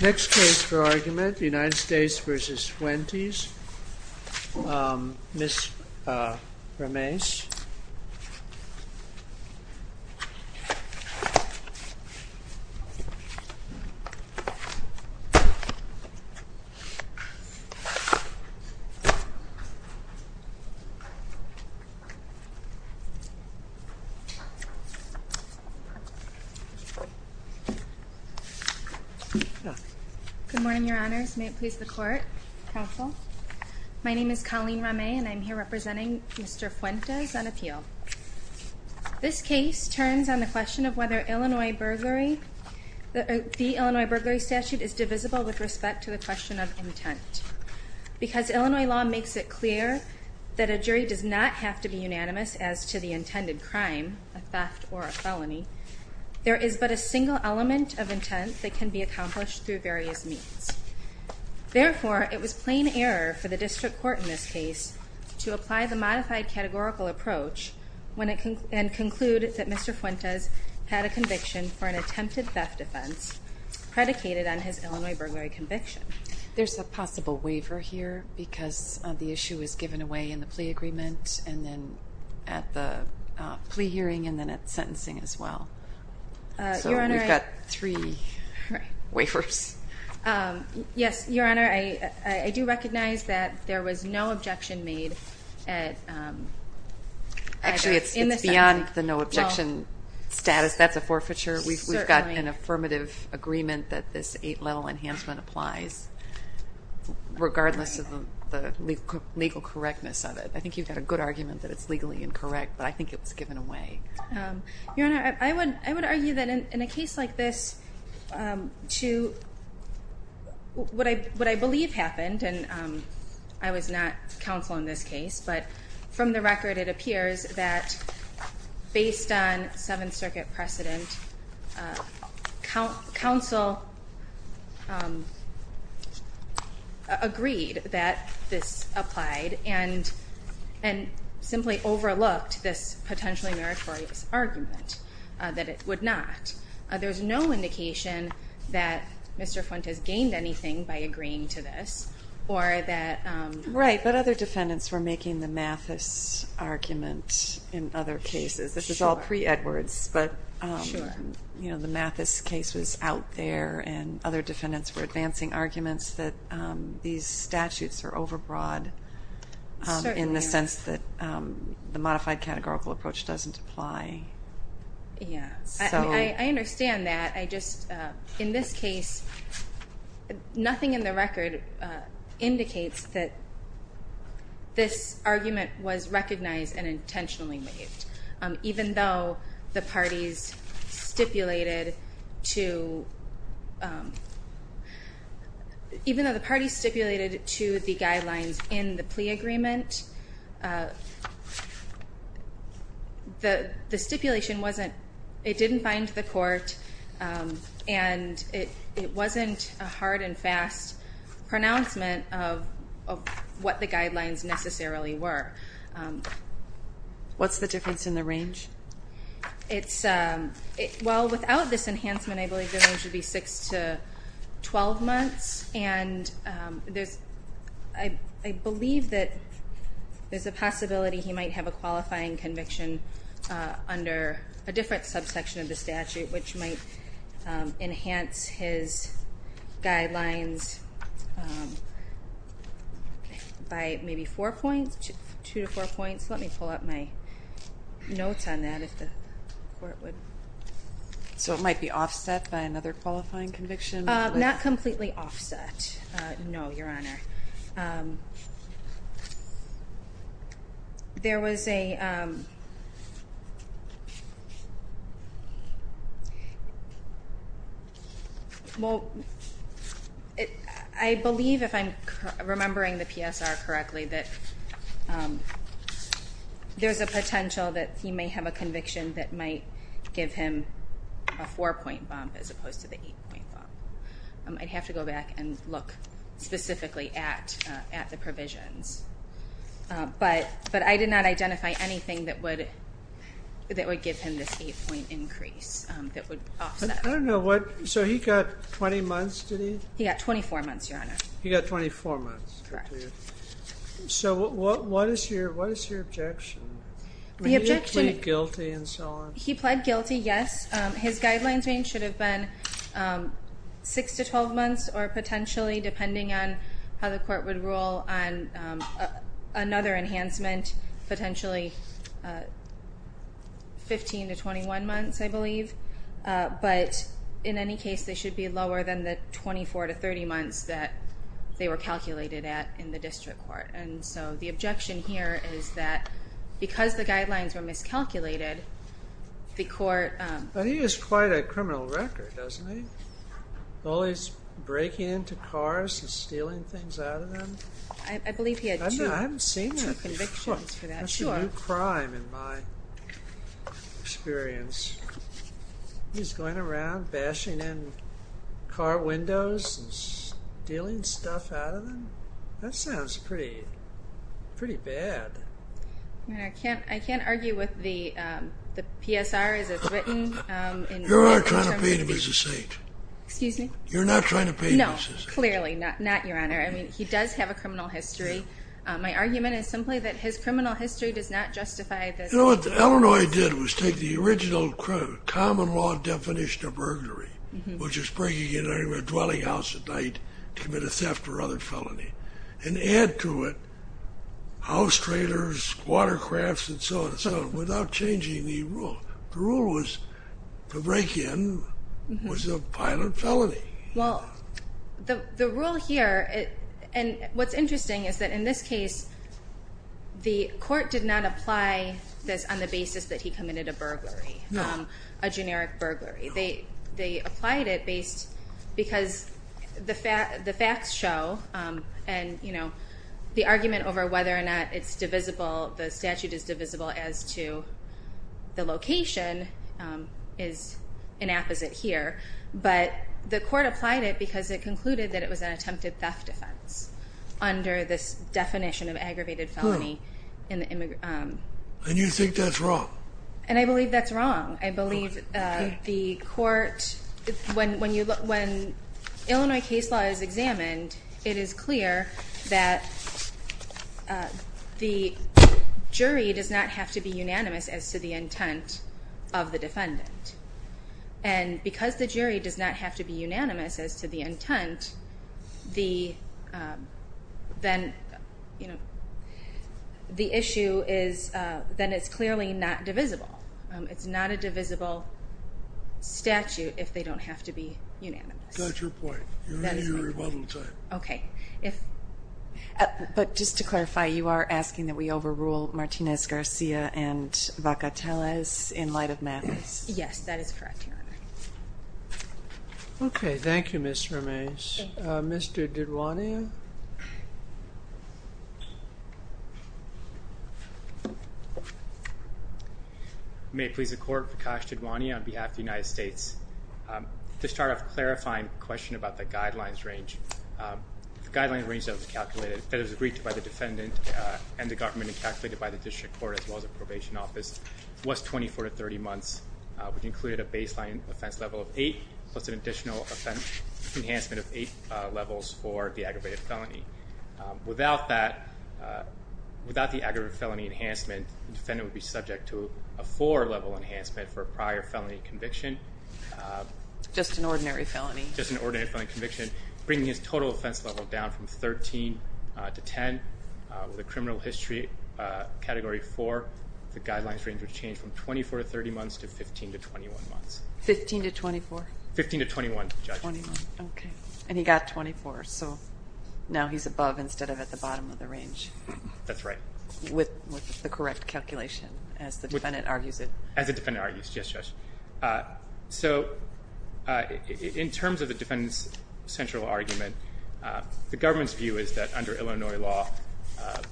Next case for argument, United States v. Fuentes, Ms. Ramez. Good morning, your honors. May it please the court, counsel. My name is Colleen Ramez and I'm here representing Mr. Fuentes on appeal. This case turns on the question of whether the Illinois burglary statute is divisible with respect to the question of intent. Because Illinois law makes it clear that a jury does not have to be unanimous as to the intended crime, a theft or a felony, there is but a single element of intent that can be accomplished through various means. Therefore, it was plain error for the district court in this case to apply the modified categorical approach and conclude that Mr. Fuentes had a conviction for an attempted theft offense predicated on his Illinois burglary conviction. There's a possible waiver here because the issue is given away in the plea agreement and then at the plea hearing and then at sentencing as well. So we've got three waivers. Yes, your honor, I do recognize that there was no objection made at either in the sentence. Actually, it's beyond the no objection status. That's a forfeiture. We've got an affirmative agreement that this eight level enhancement applies regardless of the legal correctness of it. I think you've got a good argument that it's legally incorrect, but I think it was given away. Your honor, I would argue that in a case like this, what I believe happened, and I was not counsel in this case, but from the record, it appears that based on Seventh Circuit precedent, counsel agreed that this applied and simply overlooked this potentially meritorious argument that it would not. There's no indication that Mr. Fuentes gained anything by agreeing to this or that. Right, but other defendants were making the Mathis argument in other cases. This is all pre-Edwards, but the Mathis case was out there and other defendants were advancing arguments that these statutes are overbroad in the sense that the modified categorical approach doesn't apply. I understand that. In this case, nothing in the record indicates that this argument was recognized and intentionally made. Even though the parties stipulated to the guidelines in the plea agreement, the stipulation didn't find the court and it wasn't a hard and fast pronouncement of what the guidelines necessarily were. What's the difference in the range? Without this enhancement, I believe the range would be 6 to 12 months. I believe that there's a possibility he might have a qualifying conviction under a different subsection of the statute, which might enhance his guidelines by maybe 4 points, 2 to 4 points. Let me pull up my notes on that. So it might be offset by another qualifying conviction? Not completely offset, no, Your Honor. I believe, if I'm remembering the PSR correctly, that there's a potential that he may have a conviction that might give him a 4-point bump as opposed to the 8-point bump. I'd have to go back and look specifically at the provisions. But I did not identify anything that would give him this 8-point increase that would offset. I don't know what, so he got 20 months, did he? He got 24 months, Your Honor. He got 24 months. Correct. So what is your objection? He pleaded guilty and so on. 6 to 12 months or potentially, depending on how the court would rule on another enhancement, potentially 15 to 21 months, I believe. But in any case, they should be lower than the 24 to 30 months that they were calculated at in the district court. And so the objection here is that because the guidelines were miscalculated, the court But he is quite a criminal wrecker, doesn't he? Always breaking into cars and stealing things out of them. I believe he had two convictions for that, sure. I haven't seen that before. That's a new crime in my experience. He's going around bashing in car windows and stealing stuff out of them. That sounds pretty bad. I can't argue with the PSR as it's written. You're not trying to paint him as a saint. Excuse me? You're not trying to paint him as a saint. No, clearly not, Your Honor. I mean, he does have a criminal history. My argument is simply that his criminal history does not justify this. You know what Illinois did was take the original common law definition of burglary, which is breaking into a dwelling house at night to commit a theft or other felony, and add to it house trailers, watercrafts, and so on and so on without changing the rule. The rule was to break in was a pilot felony. Well, the rule here, and what's interesting is that in this case, the court did not apply this on the basis that he committed a burglary, a generic burglary. They applied it because the facts show, and, you know, the argument over whether or not it's divisible, the statute is divisible as to the location is an apposite here, but the court applied it because it concluded that it was an attempted theft offense under this definition of aggravated felony. And you think that's wrong? And I believe that's wrong. I believe the court, when Illinois case law is examined, it is clear that the jury does not have to be unanimous as to the intent of the defendant. And because the jury does not have to be unanimous as to the intent, the issue is that it's clearly not divisible. It's not a divisible statute if they don't have to be unanimous. That's your point. You're the rebuttal type. Okay. But just to clarify, you are asking that we overrule Martinez-Garcia and Vacateles in light of math? Yes, that is correct, Your Honor. Okay. Thank you, Ms. Ramez. Mr. DiDuane? May it please the Court, Prakash DiDuane on behalf of the United States. To start off clarifying a question about the guidelines range, the guidelines range that was agreed to by the defendant and the government and calculated by the district court as well as the probation office was 24 to 30 months, which included a baseline offense level of eight plus an additional offense enhancement of eight levels for the aggravated felony. Without that, without the aggravated felony enhancement, the defendant would be subject to a four-level enhancement for a prior felony conviction. Just an ordinary felony. Just an ordinary felony conviction, bringing his total offense level down from 13 to 10. With a criminal history category four, the guidelines range would change from 24 to 30 months to 15 to 21 months. 15 to 24? 15 to 21, Judge. Okay. And he got 24, so now he's above instead of at the bottom of the range. That's right. With the correct calculation, as the defendant argues it. As the defendant argues it, yes, Judge. So in terms of the defendant's central argument, the government's view is that under Illinois law,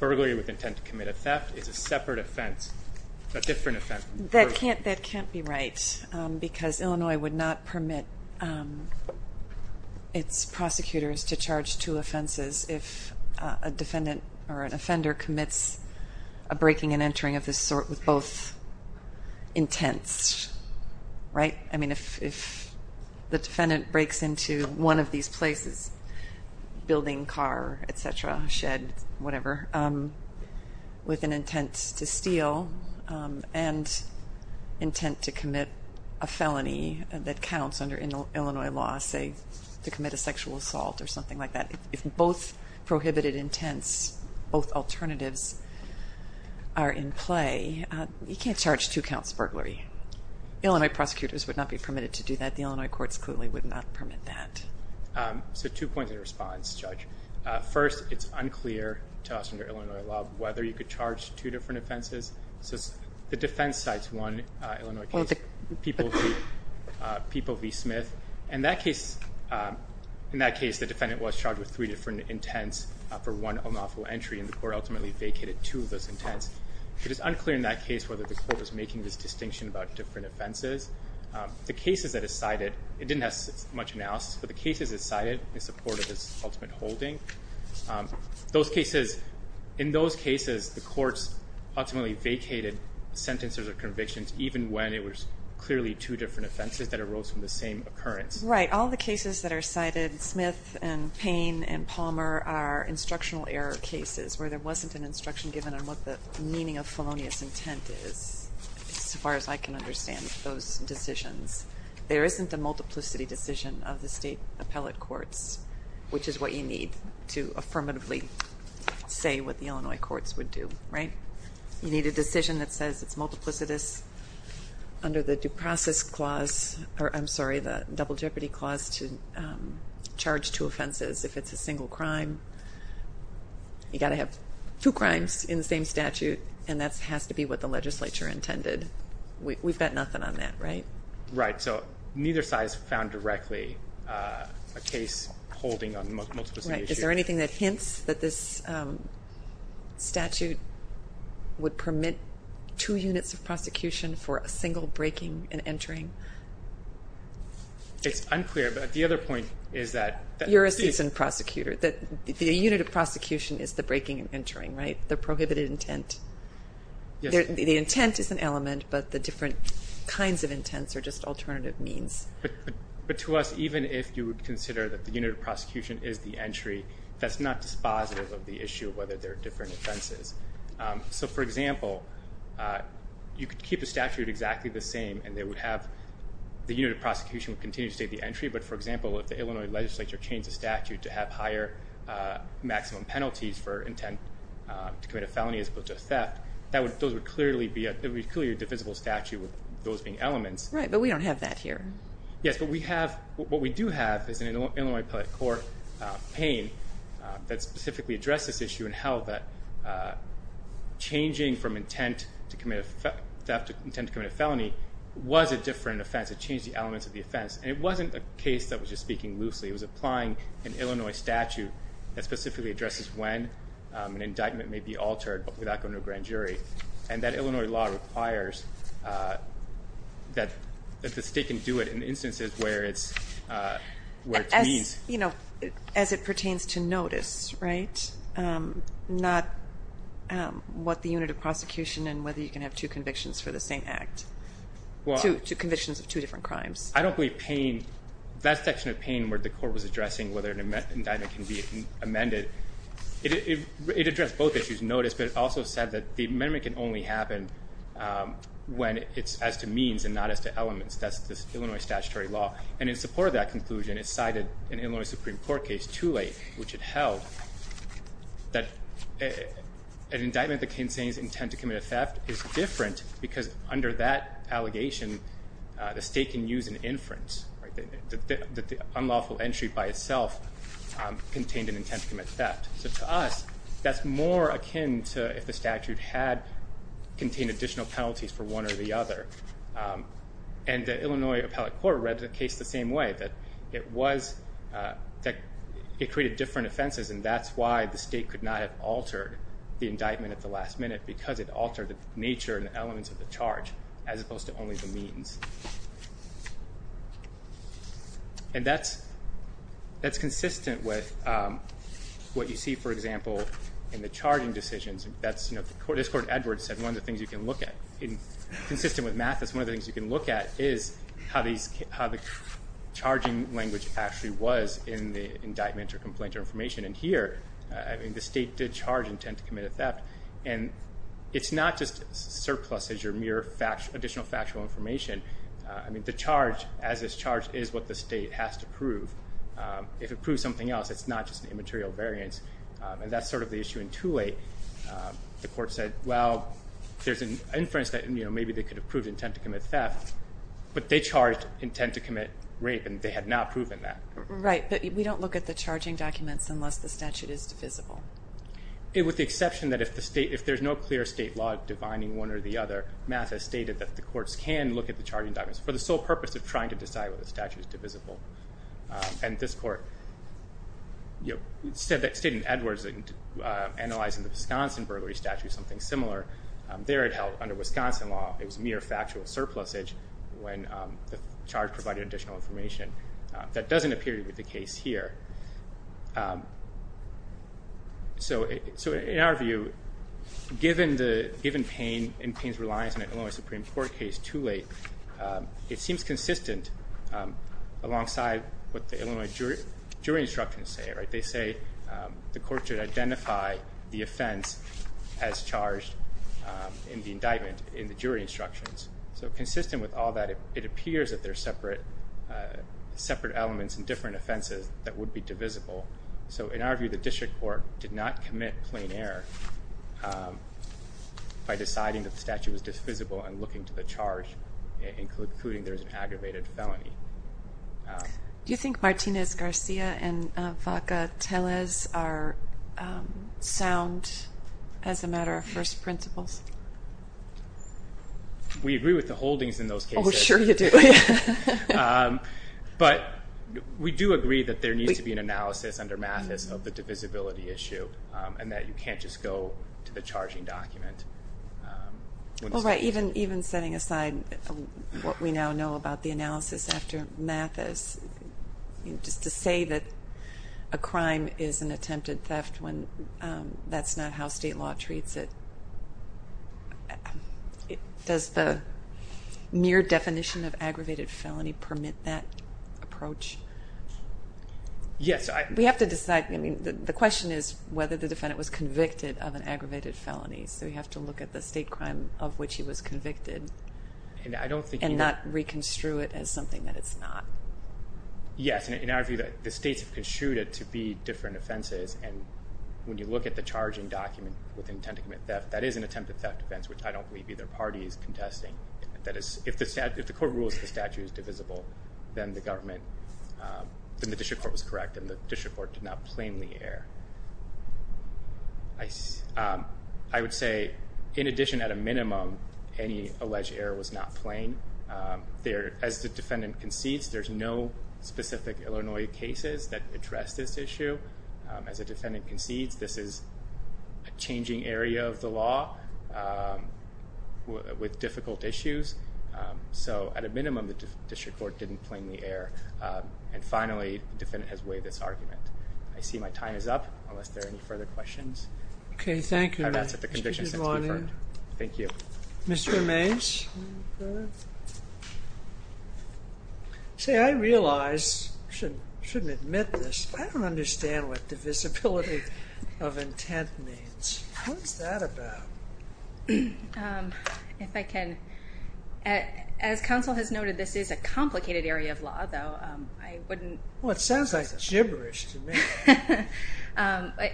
burglary with intent to commit a theft is a separate offense, a different offense. That can't be right because Illinois would not permit its prosecutors to charge two offenses if a defendant or an offender commits a breaking and entering of this sort with both intents, right? I mean, if the defendant breaks into one of these places, building, car, et cetera, shed, whatever, with an intent to steal and intent to commit a felony that counts under Illinois law, say, to commit a sexual assault or something like that, if both prohibited intents, both alternatives are in play, you can't charge two counts of burglary. Illinois prosecutors would not be permitted to do that. The Illinois courts clearly would not permit that. So two points in response, Judge. First, it's unclear to us under Illinois law whether you could charge two different offenses. So the defense cites one Illinois case, People v. Smith. In that case, the defendant was charged with three different intents for one unlawful entry, and the court ultimately vacated two of those intents. It is unclear in that case whether the court was making this distinction about different offenses. The cases that it cited, it didn't have much analysis, but the cases it cited in support of its ultimate holding, those cases, in those cases the courts ultimately vacated sentences or convictions, even when it was clearly two different offenses that arose from the same occurrence. Right. All the cases that are cited, Smith and Payne and Palmer, are instructional error cases where there wasn't an instruction given on what the meaning of felonious intent is, as far as I can understand those decisions. There isn't a multiplicity decision of the state appellate courts, which is what you need to affirmatively say what the Illinois courts would do, right? You need a decision that says it's multiplicitous under the due process clause, or I'm sorry, the double jeopardy clause to charge two offenses. If it's a single crime, you've got to have two crimes in the same statute, and that has to be what the legislature intended. We've got nothing on that, right? Right. So neither side has found directly a case holding a multiplicity decision. Right. Is there anything that hints that this statute would permit two units of prosecution for a single breaking and entering? It's unclear, but the other point is that... You're a seasoned prosecutor. The unit of prosecution is the breaking and entering, right, the prohibited intent? Yes. The intent is an element, but the different kinds of intents are just alternative means. But to us, even if you would consider that the unit of prosecution is the entry, that's not dispositive of the issue of whether there are different offenses. So, for example, you could keep the statute exactly the same and the unit of prosecution would continue to state the entry, but, for example, if the Illinois legislature changed the statute to have higher maximum penalties for intent to commit a felony as opposed to a theft, those would clearly be a divisible statute with those being elements. Right, but we don't have that here. Yes, but what we do have is an Illinois Appellate Court pane that specifically addresses this issue and how changing from intent to commit a theft to intent to commit a felony was a different offense. It changed the elements of the offense. And it wasn't a case that was just speaking loosely. It was applying an Illinois statute that specifically addresses when an indictment may be altered without going to a grand jury. And that Illinois law requires that the state can do it in instances where it's used. As it pertains to notice, right? Not what the unit of prosecution and whether you can have two convictions for the same act, two convictions of two different crimes. I don't believe pane, that section of pane where the court was addressing whether an indictment can be amended, it addressed both issues, notice, but it also said that the amendment can only happen when it's as to means and not as to elements. That's the Illinois statutory law. And in support of that conclusion, it cited an Illinois Supreme Court case too late, which it held that an indictment that contains intent to commit a theft is different because under that allegation, the state can use an inference. The unlawful entry by itself contained an intent to commit theft. So to us, that's more akin to if the statute had contained additional penalties for one or the other. And the Illinois Appellate Court read the case the same way, that it created different offenses, and that's why the state could not have altered the indictment at the last minute because it altered the nature and elements of the charge as opposed to only the means. And that's consistent with what you see, for example, in the charging decisions. As Court Edwards said, one of the things you can look at, consistent with Mathis, one of the things you can look at is how the charging language actually was in the indictment or complaint or information, and here, the state did charge intent to commit a theft, and it's not just surpluses or mere additional factual information. I mean, the charge, as is charged, is what the state has to prove. If it proves something else, it's not just an immaterial variance, and that's sort of the issue in Tooley. The Court said, well, there's an inference that maybe they could have proved intent to commit theft, but they charged intent to commit rape, and they had not proven that. Right, but we don't look at the charging documents unless the statute is divisible. With the exception that if there's no clear state law divining one or the other, Mathis stated that the courts can look at the charging documents for the sole purpose of trying to decide whether the statute is divisible. And this Court said that, stating Edwards, analyzing the Wisconsin burglary statute, something similar there it held under Wisconsin law, it was mere factual surplusage when the charge provided additional information. That doesn't appear to be the case here. So in our view, given Payne and Payne's reliance on an Illinois Supreme Court case, Tooley, it seems consistent alongside what the Illinois jury instructions say. They say the court should identify the offense as charged in the indictment in the jury instructions. So consistent with all that, it appears that there are separate elements and different offenses that would be divisible. So in our view, the district court did not commit plain error by deciding that the statute was divisible and looking to the charge, including there's an aggravated felony. Do you think Martinez-Garcia and Vaca-Telez are sound as a matter of first principles? We agree with the holdings in those cases. Oh, sure you do. But we do agree that there needs to be an analysis under Mathis of the divisibility issue and that you can't just go to the charging document. Well, right, even setting aside what we now know about the analysis after Mathis, just to say that a crime is an attempted theft when that's not how state law treats it, does the mere definition of aggravated felony permit that approach? Yes. We have to decide. I mean, the question is whether the defendant was convicted of an aggravated felony, so we have to look at the state crime of which he was convicted and not reconstrue it as something that it's not. Yes, and in our view, the states have construed it to be different offenses, and when you look at the charging document with intent to commit theft, that is an attempted theft offense, which I don't believe either party is contesting. If the court rules the statute is divisible, then the district court was correct and the district court did not plainly err. I would say, in addition, at a minimum, any alleged error was not plain. As the defendant concedes, there's no specific Illinois cases that address this issue. As the defendant concedes, this is a changing area of the law with difficult issues, so at a minimum, the district court didn't plainly err. And finally, the defendant has waived its argument. I see my time is up, unless there are any further questions. Okay, thank you. And that's it. The conviction sentence is deferred. Thank you. Mr. Amais? Say, I realize, I shouldn't admit this, but I don't understand what divisibility of intent means. What's that about? If I can. As counsel has noted, this is a complicated area of law, though. I wouldn't Well, it sounds like gibberish to me.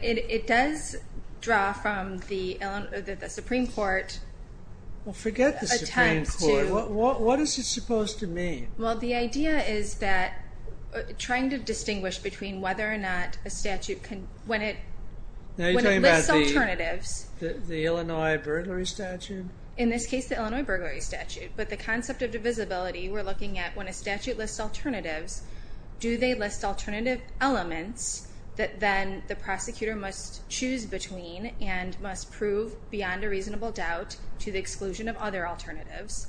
It does draw from the Supreme Court Well, forget the Supreme Court. What is it supposed to mean? Well, the idea is that trying to distinguish between whether or not a statute can when it lists alternatives The Illinois burglary statute? In this case, the Illinois burglary statute. But the concept of divisibility, we're looking at when a statute lists alternatives, do they list alternative elements that then the prosecutor must choose between and must prove beyond a reasonable doubt to the exclusion of other alternatives?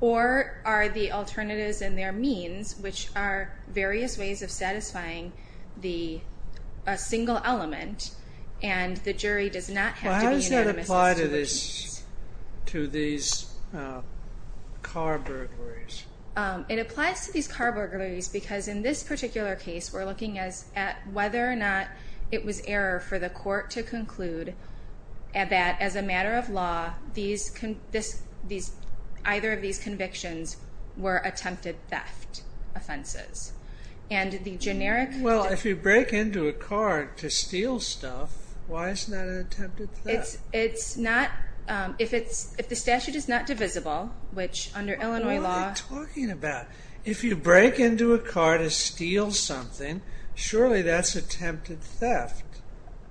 Or are the alternatives and their means, which are various ways of satisfying a single element, and the jury does not have to be anonymous as to the piece? Well, how does that apply to these car burglaries? It applies to these car burglaries because in this particular case, we're looking at whether or not it was error for the court to conclude that as a matter of law, either of these convictions were attempted theft offenses. Well, if you break into a car to steal stuff, why isn't that an attempted theft? If the statute is not divisible, which under Illinois law What are you talking about? If you break into a car to steal something, surely that's attempted theft.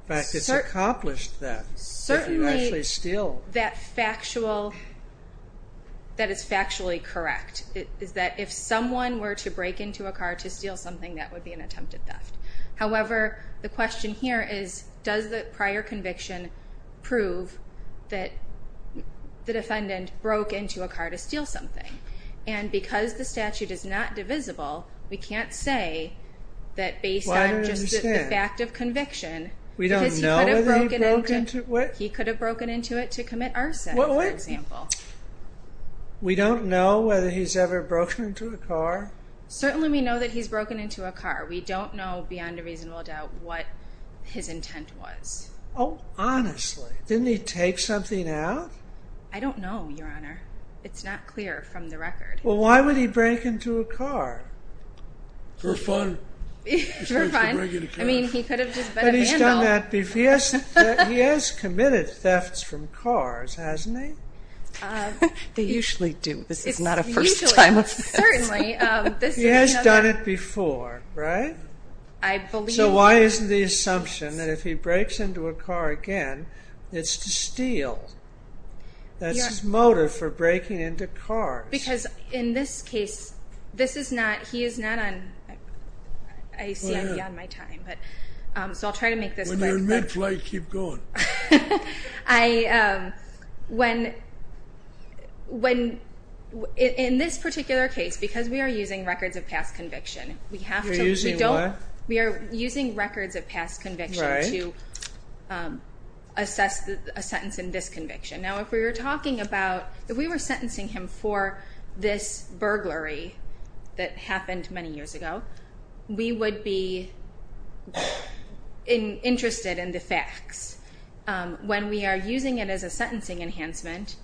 In fact, it's accomplished theft if you actually steal. That is factually correct. If someone were to break into a car to steal something, that would be an attempted theft. However, the question here is, does the prior conviction prove that the defendant broke into a car to steal something? And because the statute is not divisible, we can't say that based on just the fact of conviction because he could have broken into it to commit arson, for example. We don't know whether he's ever broken into a car? Certainly we know that he's broken into a car. We don't know beyond a reasonable doubt what his intent was. Oh, honestly. Didn't he take something out? I don't know, Your Honor. It's not clear from the record. Well, why would he break into a car? For fun. For fun? I mean, he could have just been a vandal. He has committed thefts from cars, hasn't he? They usually do. This is not a first time of this. Certainly. He has done it before, right? So why isn't the assumption that if he breaks into a car again, it's to steal? That's his motive for breaking into cars. Because in this case, this is not, he is not on, I see I'm beyond my time. So I'll try to make this quick. When you're in mid-flight, keep going. I, when, in this particular case, because we are using records of past conviction, we have to, we don't, we are using records of past conviction to assess a sentence in this conviction. Now, if we were talking about, if we were sentencing him for this burglary that happened many years ago, we would be interested in the facts. When we are using it as a sentencing enhancement,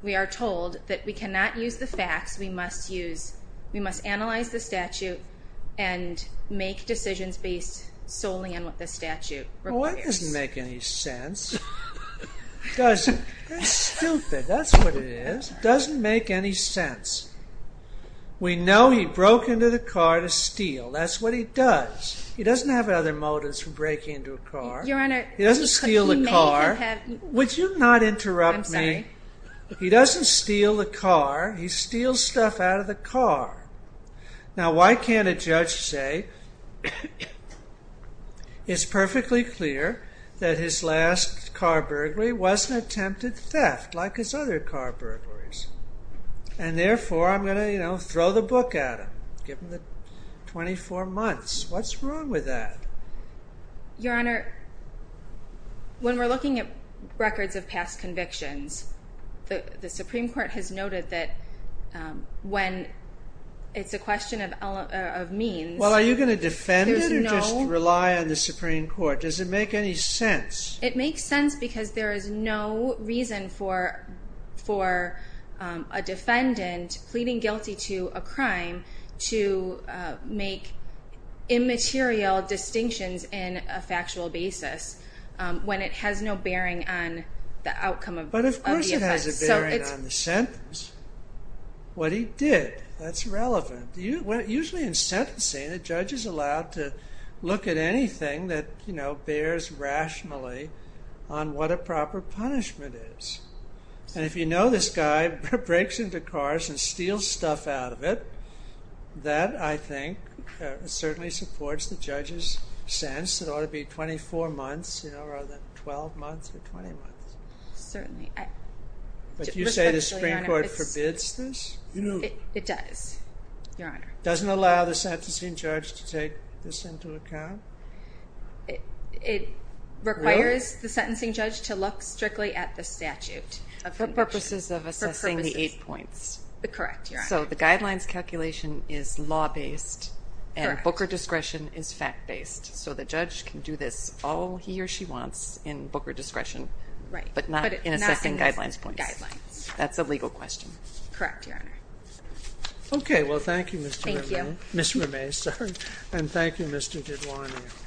we are told that we cannot use the facts, we must use, we must analyze the statute and make decisions based solely on what the statute requires. Well, that doesn't make any sense. It doesn't. That's stupid. That's what it is. It doesn't make any sense. We know he broke into the car to steal. That's what he does. He doesn't have other motives for breaking into a car. Your Honor. He doesn't steal a car. He may have had. Would you not interrupt me? I'm sorry. He doesn't steal a car. He steals stuff out of the car. Now, why can't a judge say, it's perfectly clear that his last car burglary was an attempted theft, like his other car burglaries, and therefore, I'm going to, you know, throw the book at him, given the 24 months. What's wrong with that? Your Honor, when we're looking at records of past convictions, the Supreme Court has noted that when it's a question of means. Well, are you going to defend it or just rely on the Supreme Court? Does it make any sense? It makes sense because there is no reason for a defendant pleading guilty to a crime to make immaterial distinctions in a factual basis when it has no bearing on the outcome. But of course it has a bearing on the sentence. What he did, that's relevant. Usually in sentencing, the judge is allowed to look at anything that, you know, bears rationally on what a proper punishment is. And if you know this guy breaks into cars and steals stuff out of it, that, I think, certainly supports the judge's sense. It ought to be 24 months rather than 12 months or 20 months. Certainly. But you say the Supreme Court forbids this? It does, Your Honor. It doesn't allow the sentencing judge to take this into account? It requires the sentencing judge to look strictly at the statute. For purposes of assessing the eight points. Correct, Your Honor. So the guidelines calculation is law-based and booker discretion is fact-based. So the judge can do this all he or she wants in booker discretion, but not in assessing guidelines points. That's a legal question. Correct, Your Honor. Okay. Well, thank you, Ms. Ramez. And thank you, Mr. Gidwani.